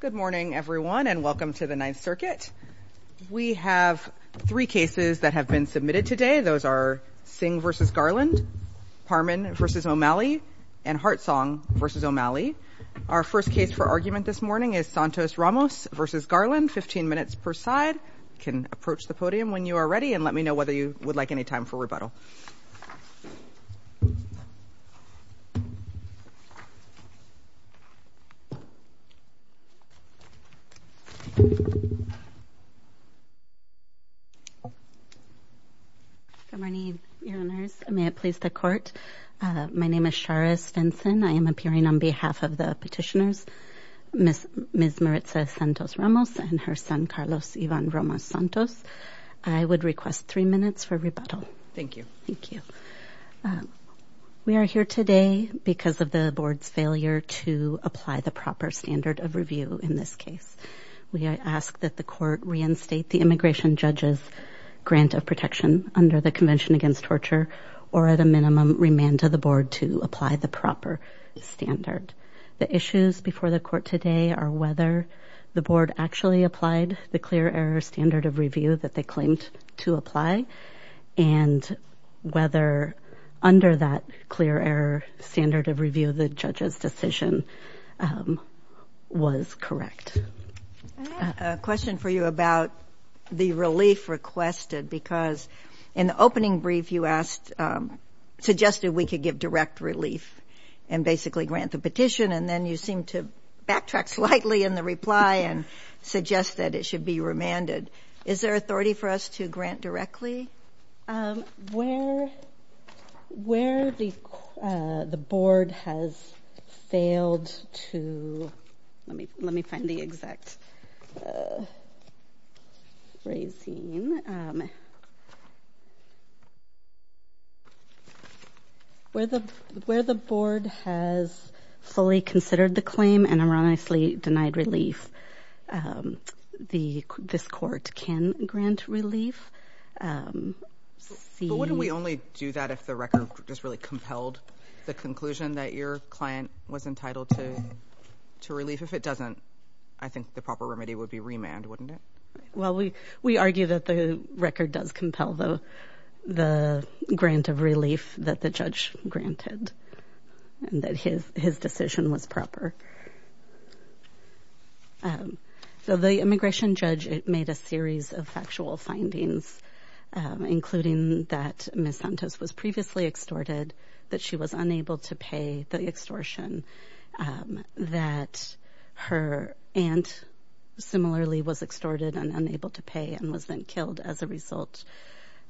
Good morning everyone and welcome to the Ninth Circuit. We have three cases that have been submitted today. Those are Singh v. Garland, Parman v. O'Malley, and Hartsong v. O'Malley. Our first case for argument this morning is Santos Ramos v. Garland, 15 minutes per side. You can approach the podium when you are ready and let me know whether you would like any time for rebuttal. Good morning Your Honors, may it please the Court. My name is Charis Vinson, I am appearing on behalf of the petitioners Ms. Maritza Santos Ramos and her son Carlos Ivan Ramos Santos. We are here today because of the Board's failure to apply the proper standard of review in this case. We ask that the Court reinstate the immigration judge's grant of protection under the Convention Against Torture or at a minimum remand to the Board to apply the proper standard. The issues before the Court today are whether the Board actually applied the clear error standard of review that they claimed to apply and whether under that clear error standard of review the judge's decision was correct. I have a question for you about the relief requested because in the opening brief you asked suggested we could give direct relief and basically grant the petition and then you seemed to backtrack slightly in the reply and suggest that it should be remanded. Is there authority for us to grant directly? Okay, where the Board has failed to, let me find the exact phrasing, where the Board has fully considered the claim and erroneously denied relief, this Court can grant relief. But wouldn't we only do that if the record just really compelled the conclusion that your client was entitled to relief? If it doesn't, I think the proper remedy would be remand, wouldn't it? Well, we argue that the record does compel the grant of relief that the judge granted and that his decision was proper. So the immigration judge made a series of factual findings, including that Ms. Santos was previously extorted, that she was unable to pay the extortion, that her aunt similarly was extorted and unable to pay and was then killed as a result,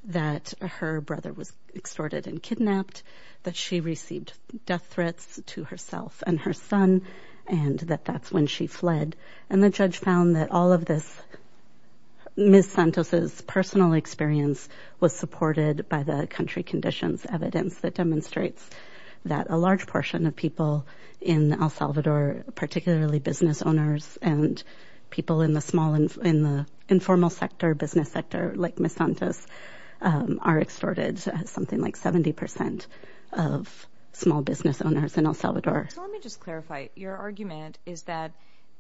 that her brother was extorted and kidnapped, that she received death threats to herself and her son and that that's when she fled. And the judge found that all of this, Ms. Santos' personal experience was supported by the country conditions evidence that demonstrates that a large portion of people in El Salvador, particularly business owners and people in the small, in the informal sector, business sector like Ms. Santos are extorted, something like 70 percent of small business owners in El Salvador. So let me just clarify. Your argument is that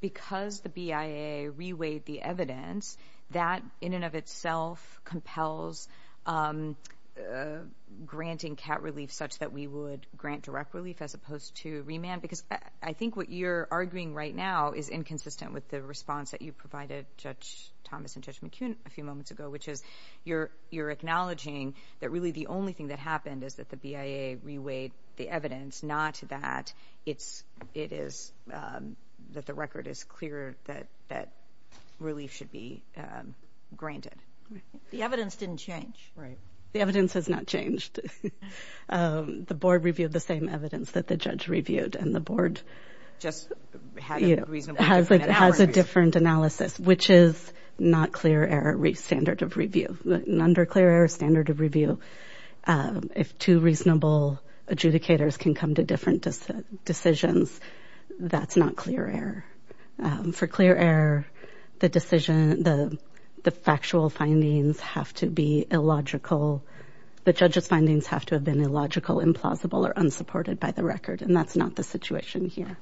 because the BIA reweighed the evidence, that in and of itself compels granting CAT relief such that we would grant direct relief as opposed to remand? Because I think what you're arguing right now is inconsistent with the response that you provided Judge Thomas and Judge McCune a few moments ago, which is you're, you're acknowledging that really the only thing that happened is that the BIA reweighed the evidence, not that it's, it is, that the record is clear that, that relief should be granted. The evidence didn't change. Right. The evidence has not changed. The board reviewed the same evidence that the judge reviewed and the board just had a different analysis, which is not clear error, standard of review, non-clear error, standard of review. If two reasonable adjudicators can come to different decisions, that's not clear error. For clear error, the decision, the factual findings have to be illogical. The judge's findings have to have been illogical, implausible, or unsupported by the record, and that's not the situation here.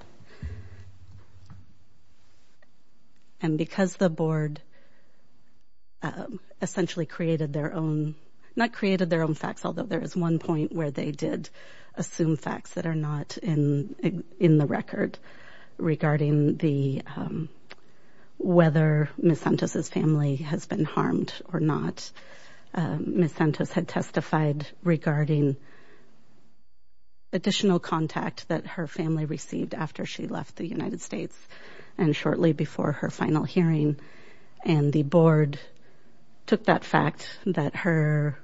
And because the board essentially created their own, not created their own facts, although there is one point where they did assume facts that are not in, in the record regarding the, whether Ms. Santos' family has been harmed or not, Ms. Santos had testified regarding the additional contact that her family received after she left the United States and shortly before her final hearing, and the board took that fact that her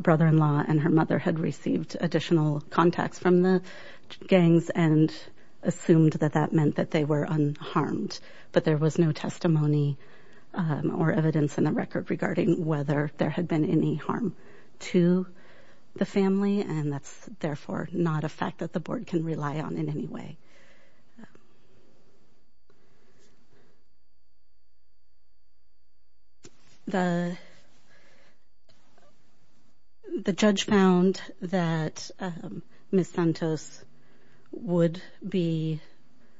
brother-in-law and her mother had received additional contacts from the gangs and assumed that that meant that they were unharmed, but there was no testimony or evidence in the record regarding whether there had been any harm to the family, and that's therefore not a fact that the board can rely on in any way. The, the judge found that Ms. Santos would be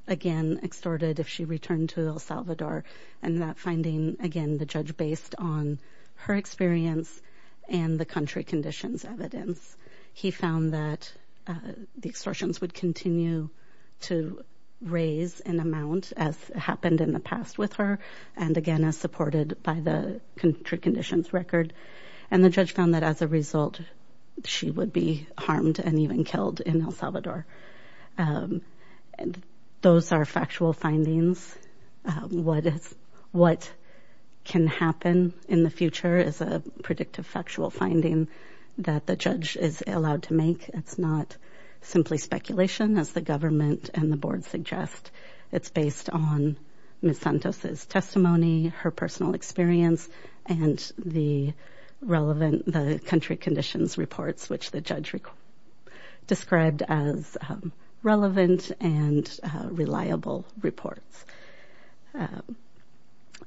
again extorted if she returned to El Salvador, and that finding, again, the judge based on her experience and the country conditions evidence. He found that the extortions would continue to raise in amount as happened in the past with her, and again, as supported by the country conditions record, and the judge found that as a result, she would be harmed and even killed in El Salvador. Those are factual findings. What can happen in the future is a predictive factual finding that the judge is allowed to make. It's not simply speculation as the government and the board suggest. It's based on Ms. Santos' testimony, her personal experience, and the relevant, the country conditions reports, which the judge described as relevant and reliable reports.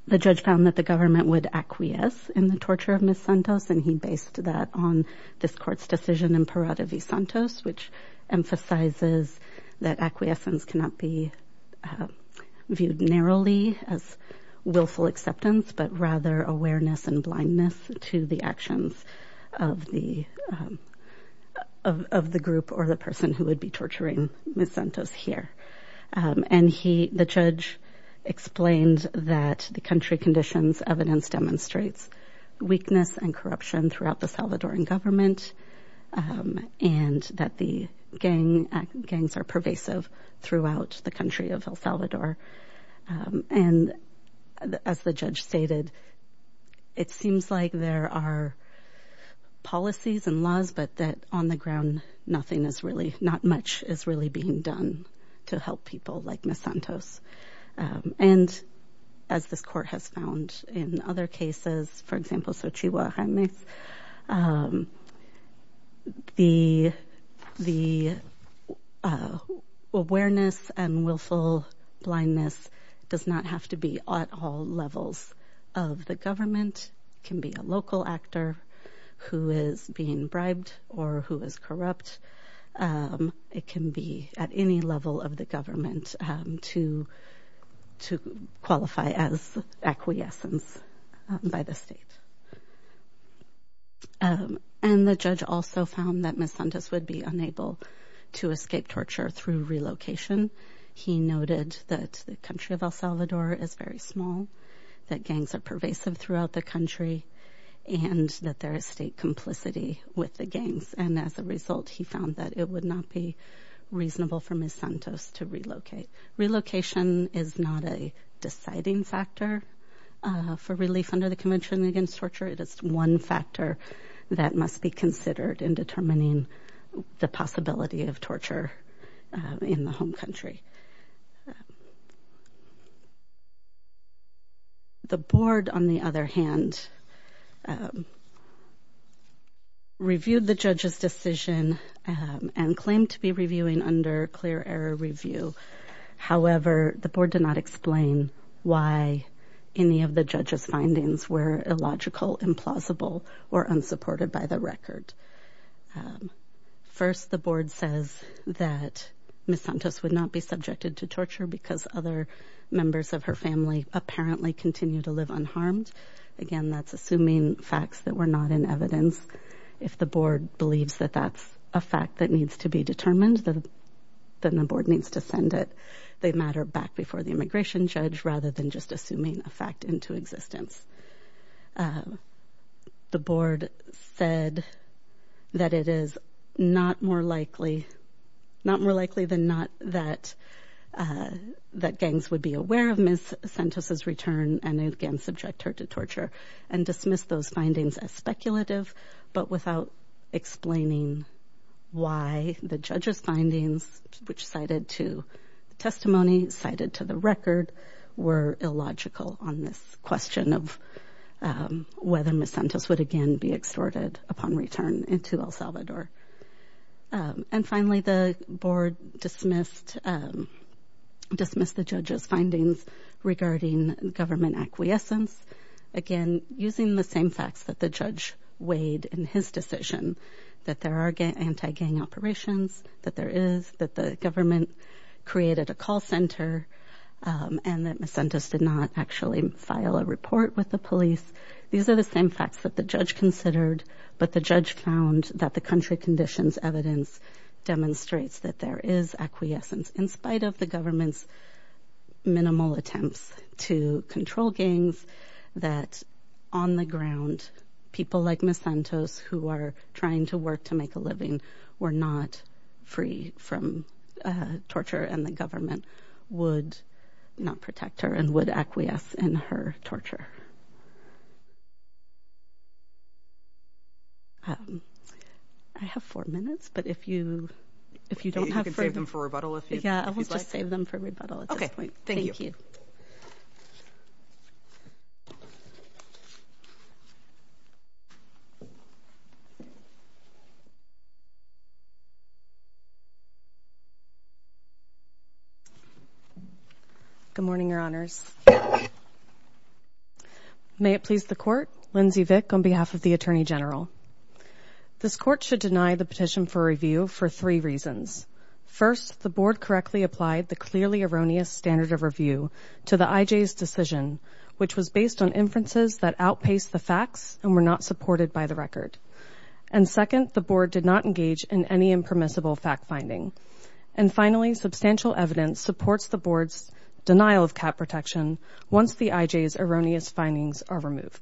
The judge found that the government would acquiesce in the torture of Ms. Santos, and he based that on this court's decision in Parada v. Santos, which emphasizes that acquiescence cannot be viewed narrowly as willful acceptance, but rather awareness and blindness to the actions of the group or the person who would be torturing Ms. Santos here. The judge explained that the country conditions evidence demonstrates weakness and corruption throughout the Salvadoran government, and that the gangs are pervasive throughout the country of El Salvador. And as the judge stated, it seems like there are policies and laws, but that on the ground, nothing is really, not much is really being done to help people like Ms. Santos. And as this court has found in other cases, for example, Xochihuahuanes, the awareness and willful blindness does not have to be at all levels of the government. It can be a local actor who is being bribed or who is corrupt. It can be at any level of the government to qualify as acquiescence by the state. And the judge also found that Ms. Santos would be unable to escape torture through relocation. He noted that the country of El Salvador is very small, that gangs are pervasive throughout the country, and that there is state complicity with the gangs. And as a result, he found that it would not be reasonable for Ms. Santos to relocate. Relocation is not a deciding factor for relief under the Convention Against Torture. It is one factor that must be considered in determining the possibility of torture in the home country. The board, on the other hand, reviewed the judge's decision and claimed to be reviewing under clear error review. However, the board did not explain why any of the judge's findings were illogical, implausible, or unsupported by the record. First, the board says that Ms. Santos would not be subjected to torture because other members of her family apparently continue to live unharmed. Again, that's assuming facts that were not in evidence. If the board believes that that's a fact that needs to be determined, then the board needs to send it. They matter back before the immigration judge rather than just assuming a fact into existence. The board said that it is not more likely than not that gangs would be aware of Ms. Santos' desire to subject her to torture and dismissed those findings as speculative, but without explaining why the judge's findings, which cited to testimony, cited to the record, were illogical on this question of whether Ms. Santos would again be extorted upon return into El Salvador. Finally, the board dismissed the judge's findings regarding government acquiescence, again using the same facts that the judge weighed in his decision, that there are anti-gang operations, that there is, that the government created a call center, and that Ms. Santos did not actually file a report with the police. These are the same facts that the judge considered, but the judge found that the country conditions evidence demonstrates that there is acquiescence in spite of the government's minimal attempts to control gangs, that on the ground, people like Ms. Santos, who are trying to work to make a living, were not free from torture, and the government would not protect her and would acquiesce in her torture. I have four minutes, but if you, if you don't have further, you can save them for rebuttal if you'd like. Yeah, I will just save them for rebuttal at this point. Okay, thank you. Thank you. Good morning, Your Honors. May it please the Court, Lindsay Vick on behalf of the Attorney General. This Court should deny the petition for review for three reasons. First, the Board correctly applied the clearly erroneous standard of review to the IJ's decision, which was based on inferences that outpaced the facts and were not supported by the record. And second, the Board did not engage in any impermissible fact-finding. And finally, substantial evidence supports the Board's denial of cap protection once the IJ's erroneous findings are removed.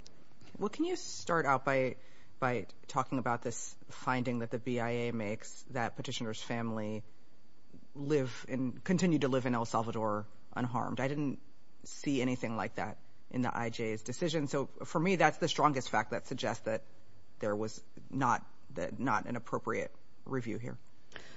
Well, can you start out by, by talking about this finding that the BIA makes that petitioner's family live in, continue to live in El Salvador unharmed? I didn't see anything like that in the IJ's decision, so for me, that's the strongest fact that suggests that there was not, not an appropriate review here.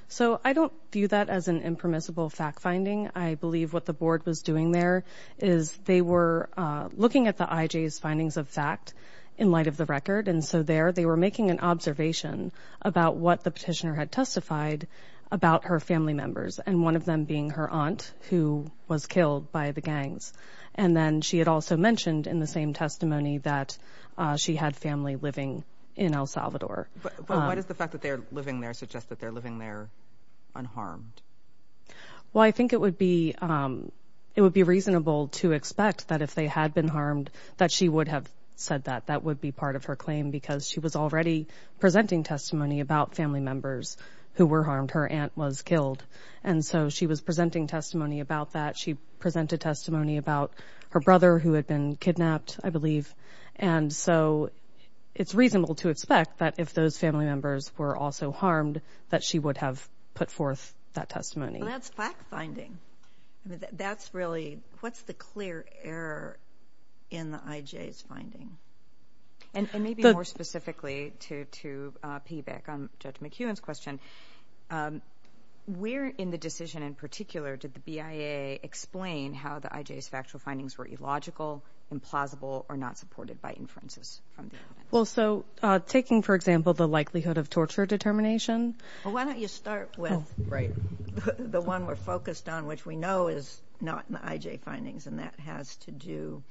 So I don't view that as an impermissible fact-finding. I believe what the Board was doing there is they were looking at the IJ's findings of fact in light of the record, and so there they were making an observation about what the petitioner had testified about her family members, and one of them being her aunt, who was killed by the gangs. And then she had also mentioned in the same testimony that she had family living in El Salvador. But, but why does the fact that they're living there suggest that they're living there unharmed? Well, I think it would be, it would be reasonable to expect that if they had been harmed that she would have said that. That would be part of her claim because she was already presenting testimony about family members who were harmed. Her aunt was killed. And so she was presenting testimony about that. She presented testimony about her brother who had been kidnapped, I believe. And so it's reasonable to expect that if those family members were also harmed that she would have put forth that testimony. That's fact-finding. That's really, what's the clear error in the IJ's finding? And maybe more specifically to piggyback on Judge McEwen's question, where in the decision in particular did the BIA explain how the IJ's factual findings were illogical, implausible, or not supported by inferences from the evidence? Well, so taking, for example, the likelihood of torture determination. Well, why don't you start with the one we're focused on, which we know is not in the IJ findings, and that has to do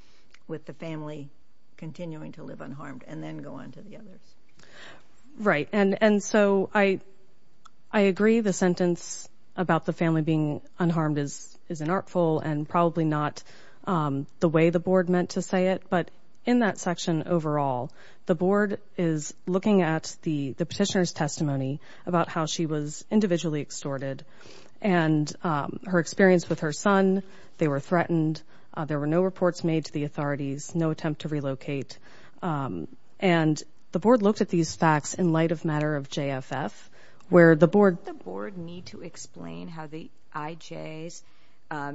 with the family continuing to live unharmed, and then go on to the others. Right. And so I agree the sentence about the family being unharmed is an artful and probably not the way the board meant to say it. But in that section overall, the board is looking at the petitioner's testimony about how she was individually extorted. And her experience with her son, they were threatened, there were no reports made to the authorities, no attempt to relocate. And the board looked at these facts in light of matter of JFF, where the board The board need to explain how the IJ's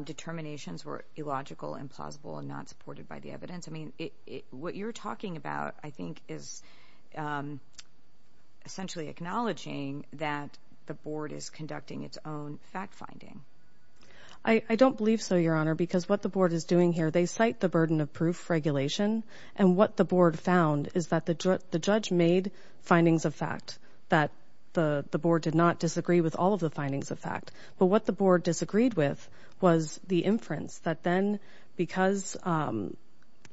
determinations were illogical, implausible, and not supported by the evidence. I mean, what you're talking about, I think, is essentially acknowledging that the board is conducting its own fact-finding. I don't believe so, Your Honor, because what the board is doing here, they cite the burden of proof regulation. And what the board found is that the judge made findings of fact, that the board did not disagree with all of the findings of fact. But what the board disagreed with was the inference that then, because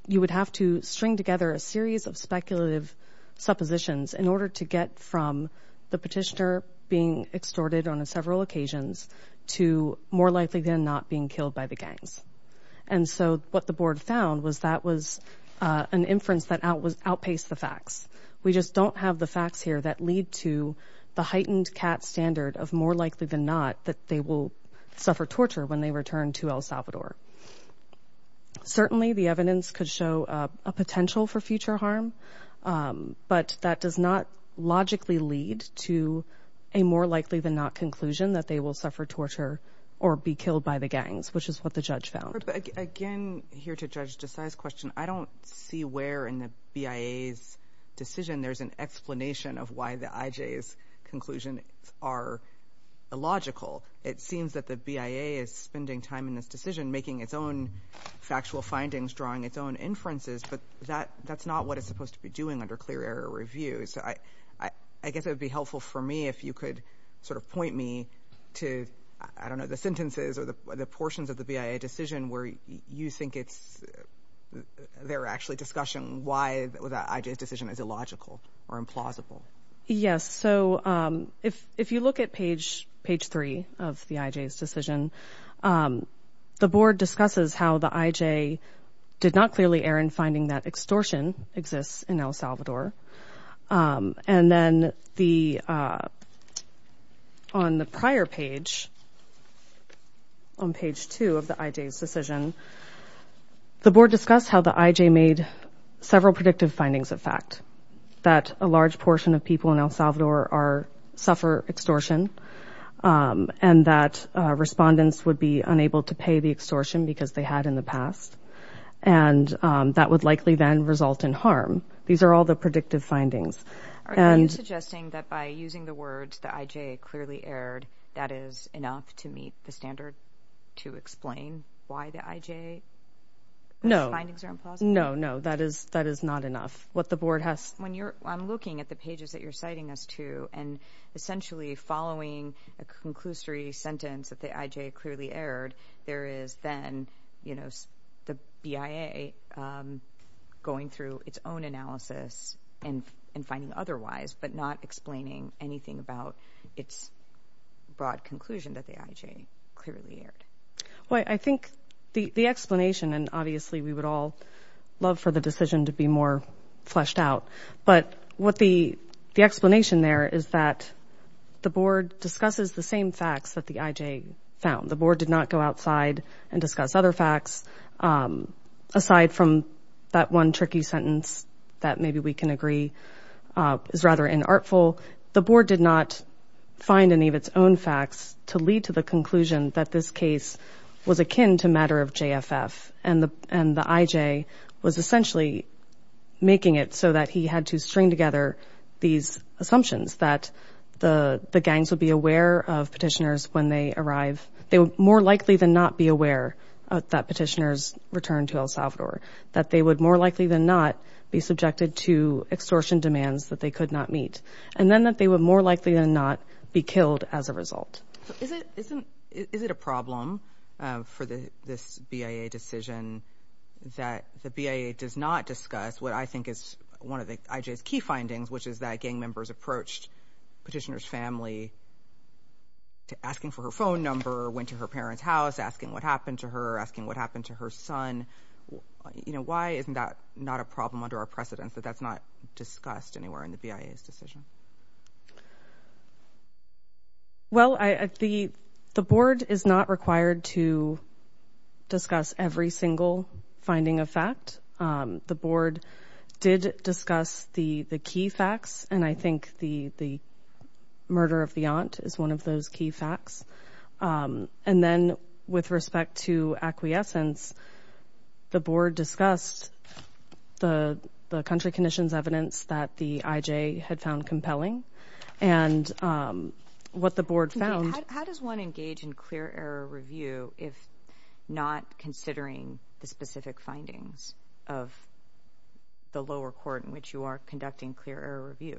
you would have to string together a series of speculative suppositions in order to get from the petitioner being extorted on several occasions to more likely than not being killed by the gangs. And so what the board found was that was an inference that outpaced the facts. We just don't have the facts here that lead to the heightened CAT standard of more likely than not that they will suffer torture when they return to El Salvador. Certainly the evidence could show a potential for future harm, but that does not logically lead to a more likely than not conclusion that they will suffer torture or be killed by the gangs, which is what the judge found. Again, here to Judge Desai's question, I don't see where in the BIA's decision there's an explanation of why the IJ's conclusion are illogical. It seems that the BIA is spending time in this decision making its own factual findings, drawing its own inferences, but that's not what it's supposed to be doing under clear error review. So I guess it would be helpful for me if you could sort of point me to, I don't know, the sentences or the portions of the BIA decision where you think it's, they're actually discussing why the IJ's decision is illogical or implausible. Yes. So if you look at page three of the IJ's decision, the board discusses how the IJ did not clearly err in finding that extortion exists in El Salvador. And then the, on the prior page, on page two of the IJ's decision, the board discussed how the IJ made several predictive findings of fact, that a large portion of people in El Salvador are, suffer extortion, and that respondents would be unable to pay the extortion because they had in the past, and that would likely then result in harm. These are all the predictive findings. Are you suggesting that by using the words, the IJ clearly erred, that is enough to meet the standard to explain why the IJ's findings are implausible? No, no, no. That is, that is not enough. What the board has... When you're, I'm looking at the pages that you're citing us to, and essentially following a conclusory sentence that the IJ clearly erred, there is then, you know, the BIA going through its own analysis and, and finding otherwise, but not explaining anything about its broad conclusion that the IJ clearly erred. Well, I think the, the explanation, and obviously we would all love for the decision to be more fleshed out, but what the, the explanation there is that the board discusses the same facts that the IJ found. The board did not go outside and discuss other facts, aside from that one tricky sentence that maybe we can agree is rather inartful. The board did not find any of its own facts to lead to the conclusion that this case was akin to matter of JFF, and the, and the IJ was essentially making it so that he had to string together these assumptions, that the, the gangs would be aware of petitioners when they arrive. They would more likely than not be aware that petitioners returned to El Salvador, that they would more likely than not be subjected to extortion demands that they could not meet, and then that they would more likely than not be killed as a result. So is it, isn't, is it a problem for the, this BIA decision that the BIA does not discuss what I think is one of the IJ's key findings, which is that gang members approached petitioner's family to, asking for her phone number, went to her parents' house, asking what happened to her, asking what happened to her son. You know, why isn't that not a problem under our precedence, that that's not discussed anywhere in the BIA's decision? Well, I, the, the board is not required to discuss every single finding of fact. The board did discuss the, the key facts, and I think the, the murder of the aunt is one of those key facts. And then, with respect to acquiescence, the board discussed the, the country condition's evidence that the IJ had found compelling, and what the board found. Okay. How does one engage in clear error review if not considering the specific findings of the lower court in which you are conducting clear error review?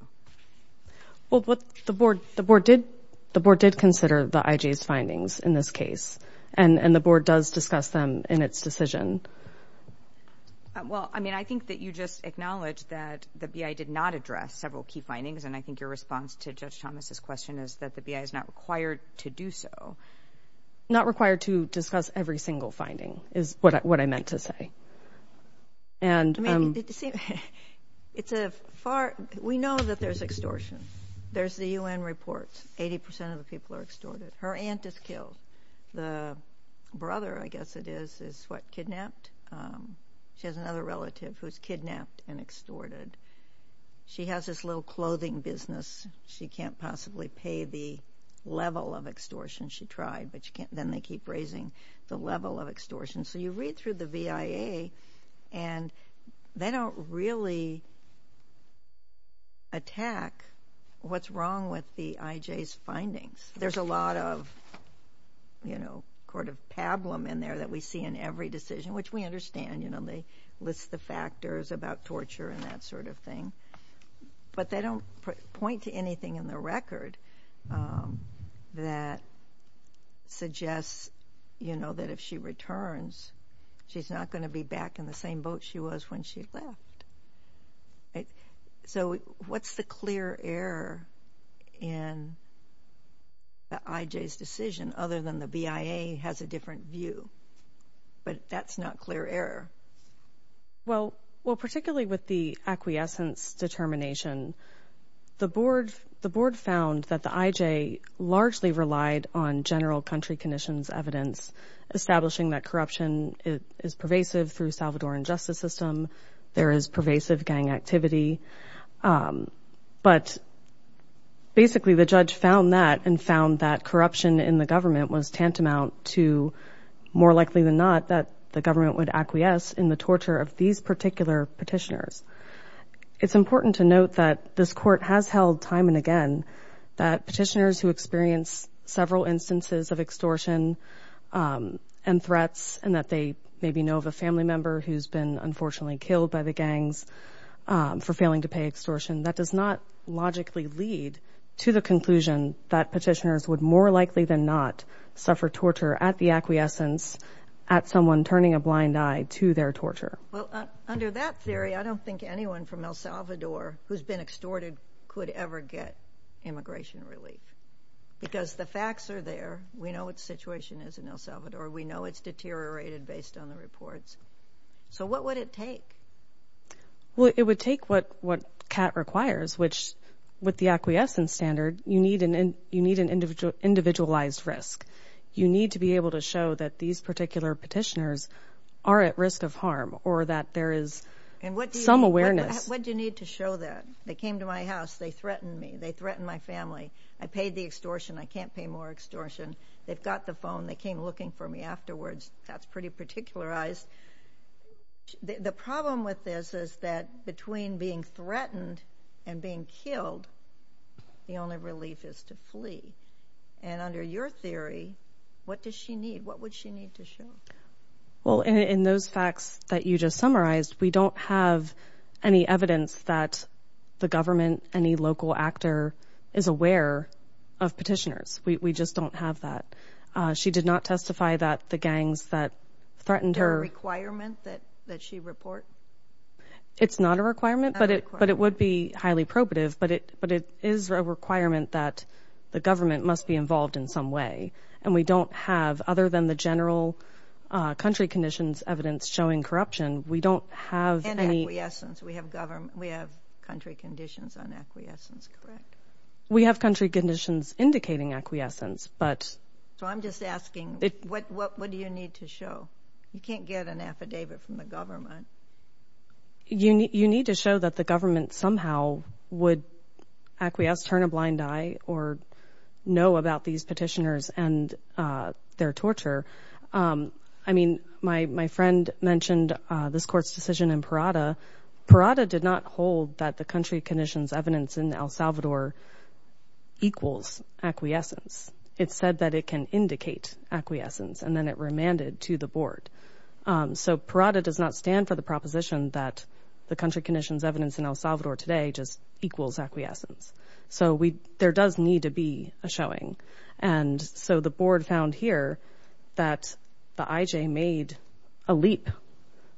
Well, what the board, the board did, the board did consider the IJ's findings in this case, and the board does discuss them in its decision. Well, I mean, I think that you just acknowledged that the BIA did not address several key findings, and I think your response to Judge Thomas' question is that the BIA is not required to do so. Not required to discuss every single finding is what I, what I meant to say. And I mean, it's a far, we know that there's extortion. There's the UN reports. Eighty percent of the people are extorted. Her aunt is killed. The brother, I guess it is, is what, kidnapped? She has another relative who's kidnapped and extorted. She has this little clothing business. She can't possibly pay the level of extortion she tried, but you can't, then they keep raising the level of extortion. So, you read through the BIA, and they don't really attack what's wrong with the IJ's findings. There's a lot of, you know, court of pablum in there that we see in every decision, which we understand. You know, they list the factors about torture and that sort of thing. But they don't point to anything in the record that suggests, you know, that if she returns, she's not going to be back in the same boat she was when she left. Right. So, what's the clear error in the IJ's decision, other than the BIA has a different view? But that's not clear error. Well, particularly with the acquiescence determination, the board found that the IJ largely relied on general country conditions evidence, establishing that corruption is pervasive through Salvadoran justice system. There is pervasive gang activity. But basically, the judge found that and found that corruption in the government was tantamount to more likely than not that the government would acquiesce in the torture of these particular petitioners. It's important to note that this court has held time and again that petitioners who experience several instances of extortion and threats, and that they maybe know of a family member who's been unfortunately killed by the gangs for failing to pay extortion, that does not logically lead to the conclusion that petitioners would more likely than not suffer torture at the acquiescence at someone turning a blind eye to their torture. Well, under that theory, I don't think anyone from El Salvador who's been extorted could ever get immigration relief. Because the facts are there. We know what the situation is in El Salvador. We know it's deteriorated based on the reports. So what would it take? Well, it would take what CAT requires, which with the acquiescence standard, you need an individualized risk. You need to be able to show that these particular petitioners are at risk of harm or that there is some awareness. And what do you need to show that? They came to my house. They threatened me. They threatened my family. I paid the extortion. I can't pay more extortion. They've got the phone. They came looking for me afterwards. That's pretty particularized. The problem with this is that between being threatened and being killed, the only relief is to flee. And under your theory, what does she need? What would she need to show? Well, in those facts that you just summarized, we don't have any evidence that the government, any local actor is aware of petitioners. We just don't have that. She did not testify that the gangs that threatened her... Is there a requirement that she report? It's not a requirement, but it would be highly probative. But it is a requirement that the government must be involved in some way. And we don't have, other than the general country conditions evidence showing corruption, we don't have any... And acquiescence. We have country conditions on acquiescence, correct? We have country conditions indicating acquiescence, but... So I'm just asking, what do you need to show? You can't get an affidavit from the government. You need to show that the government somehow would acquiesce, turn a blind eye, or know about these petitioners and their torture. I mean, my friend mentioned this court's decision in Parada. Parada did not hold that the country conditions evidence in El Salvador equals acquiescence. It said that it can indicate acquiescence, and then it remanded to the board. So Parada does not stand for the proposition that the country conditions evidence in El Salvador today just equals acquiescence. So there does need to be a showing. And so the board found here that the IJ made a leap.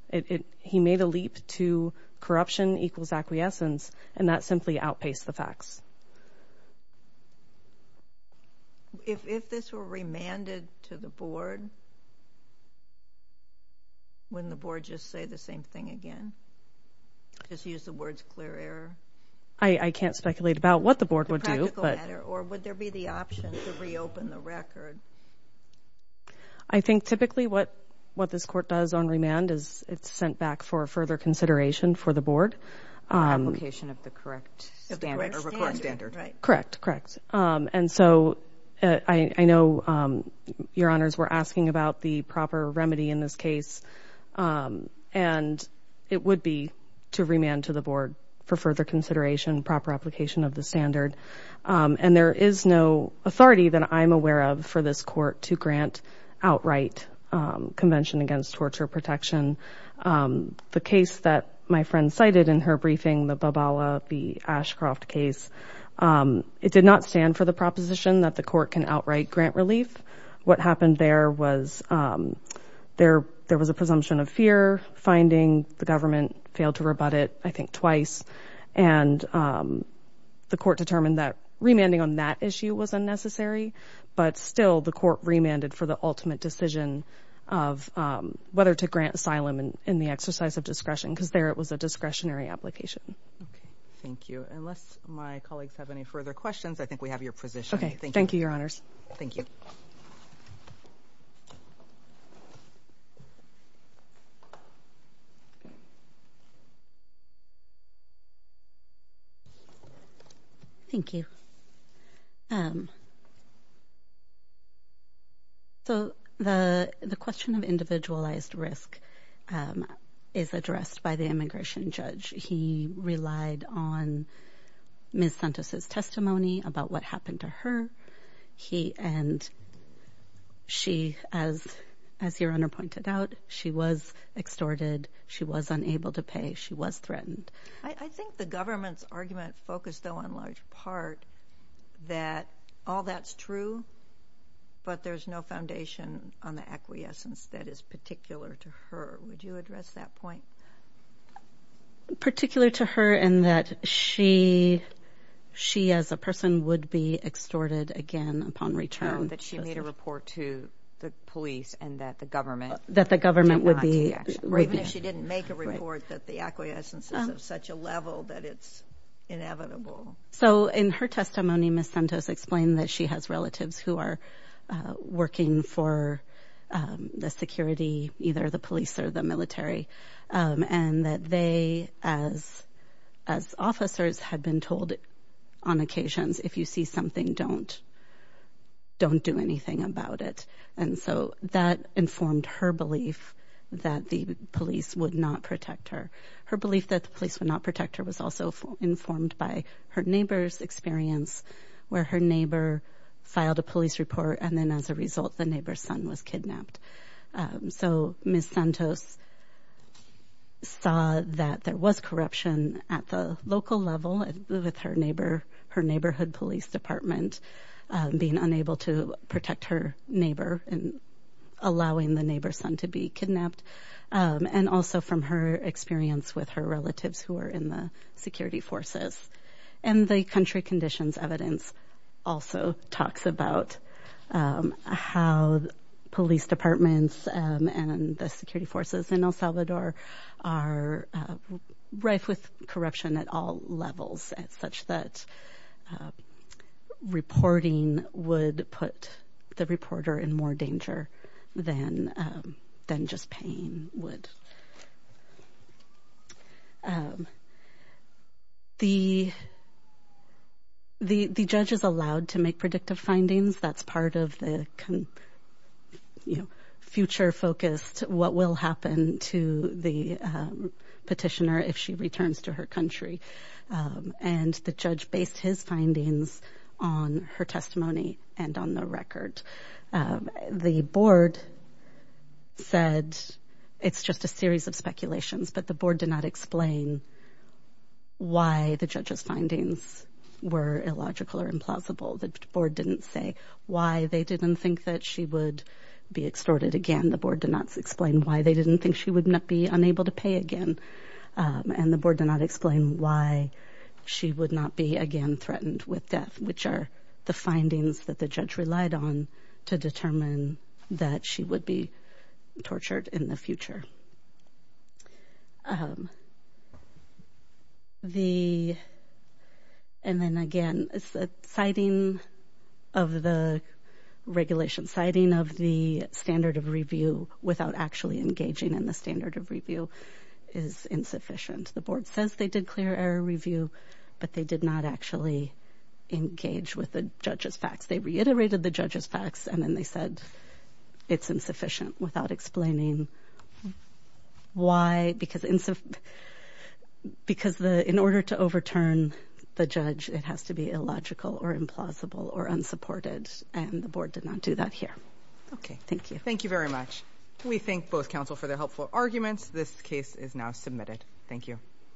It... He made a leap to corruption equals acquiescence, and that simply outpaced the facts. If this were remanded to the board, wouldn't the board just say the same thing again? Just use the words clear error? I can't speculate about what the board would do, but... The practical matter, or would there be the option to reopen the record? I think typically what this court does on remand is it's sent back for further consideration for the board. Application of the correct standard, or record standard, right? Correct, correct. And so I know your honors were asking about the proper remedy in this case, and it would be to remand to the board for further consideration, proper application of the standard. And there is no authority that I'm aware of for this court to grant outright Convention Against Torture Protection. The case that my friend cited in her briefing, the Babala v. Ashcroft case, it did not stand for the proposition that the court can outright grant relief. What happened there was there was a presumption of fear, finding the government failed to rebut it, I think twice. And the court determined that remanding on that issue was unnecessary, but still the court remanded for the ultimate decision of whether to grant asylum in the exercise of discretion because there it was a discretionary application. Okay, thank you. Unless my colleagues have any further questions, I think we have your position. Okay, thank you, your honors. Thank you. So the question of individualized risk is addressed by the immigration judge. He relied on Ms. Santos' testimony about what happened to her. And she, as your honor pointed out, she was extorted. She was unable to pay. She was threatened. I think the government's argument focused, though, in large part, that all that's true, but there's no foundation on the acquiescence that is particular to her. Would you address that point? Particular to her in that she, as a person, would be extorted again upon return. That she made a report to the police and that the government did not take action. Even if she didn't make a report that the acquiescence is of such a level that it's inevitable. So in her testimony, Ms. Santos explained that she has relatives who are working for the security, either the police or the military, and that they, as officers, had been told on occasions, if you see something, don't do anything about it. And so that informed her belief that the police would not protect her. Her belief that the police would not protect her was also informed by her neighbor's experience where her neighbor filed a police report and then as a result, the neighbor's son was kidnapped. So Ms. Santos saw that there was corruption at the local level with her neighbor, her neighborhood police department, being unable to protect her neighbor and allowing the neighbor's son to be kidnapped. And also from her experience with her relatives who are in the security forces. And the country conditions evidence also talks about how police departments and the security reporting would put the reporter in more danger than just paying would. The judge is allowed to make predictive findings. That's part of the future focused, what will happen to the petitioner if she returns to her country. And the judge based his findings on her testimony and on the record. The board said, it's just a series of speculations, but the board did not explain why the judge's findings were illogical or implausible. The board didn't say why they didn't think that she would be extorted again. The board did not explain why they didn't think she would not be unable to pay again. And the board did not explain why she would not be again threatened with death, which are the findings that the judge relied on to determine that she would be tortured in the future. And then again, it's a sighting of the regulation, sighting of the standard of review without actually engaging in the standard of review is insufficient. The board says they did clear error review, but they did not actually engage with the judge's facts. They reiterated the judge's facts and then they said it's insufficient without explaining why, because in order to overturn the judge, it has to be illogical or implausible or unsupported and the board did not do that here. Okay. Thank you. Thank you very much. We thank both counsel for their helpful arguments. This case is now submitted. Thank you.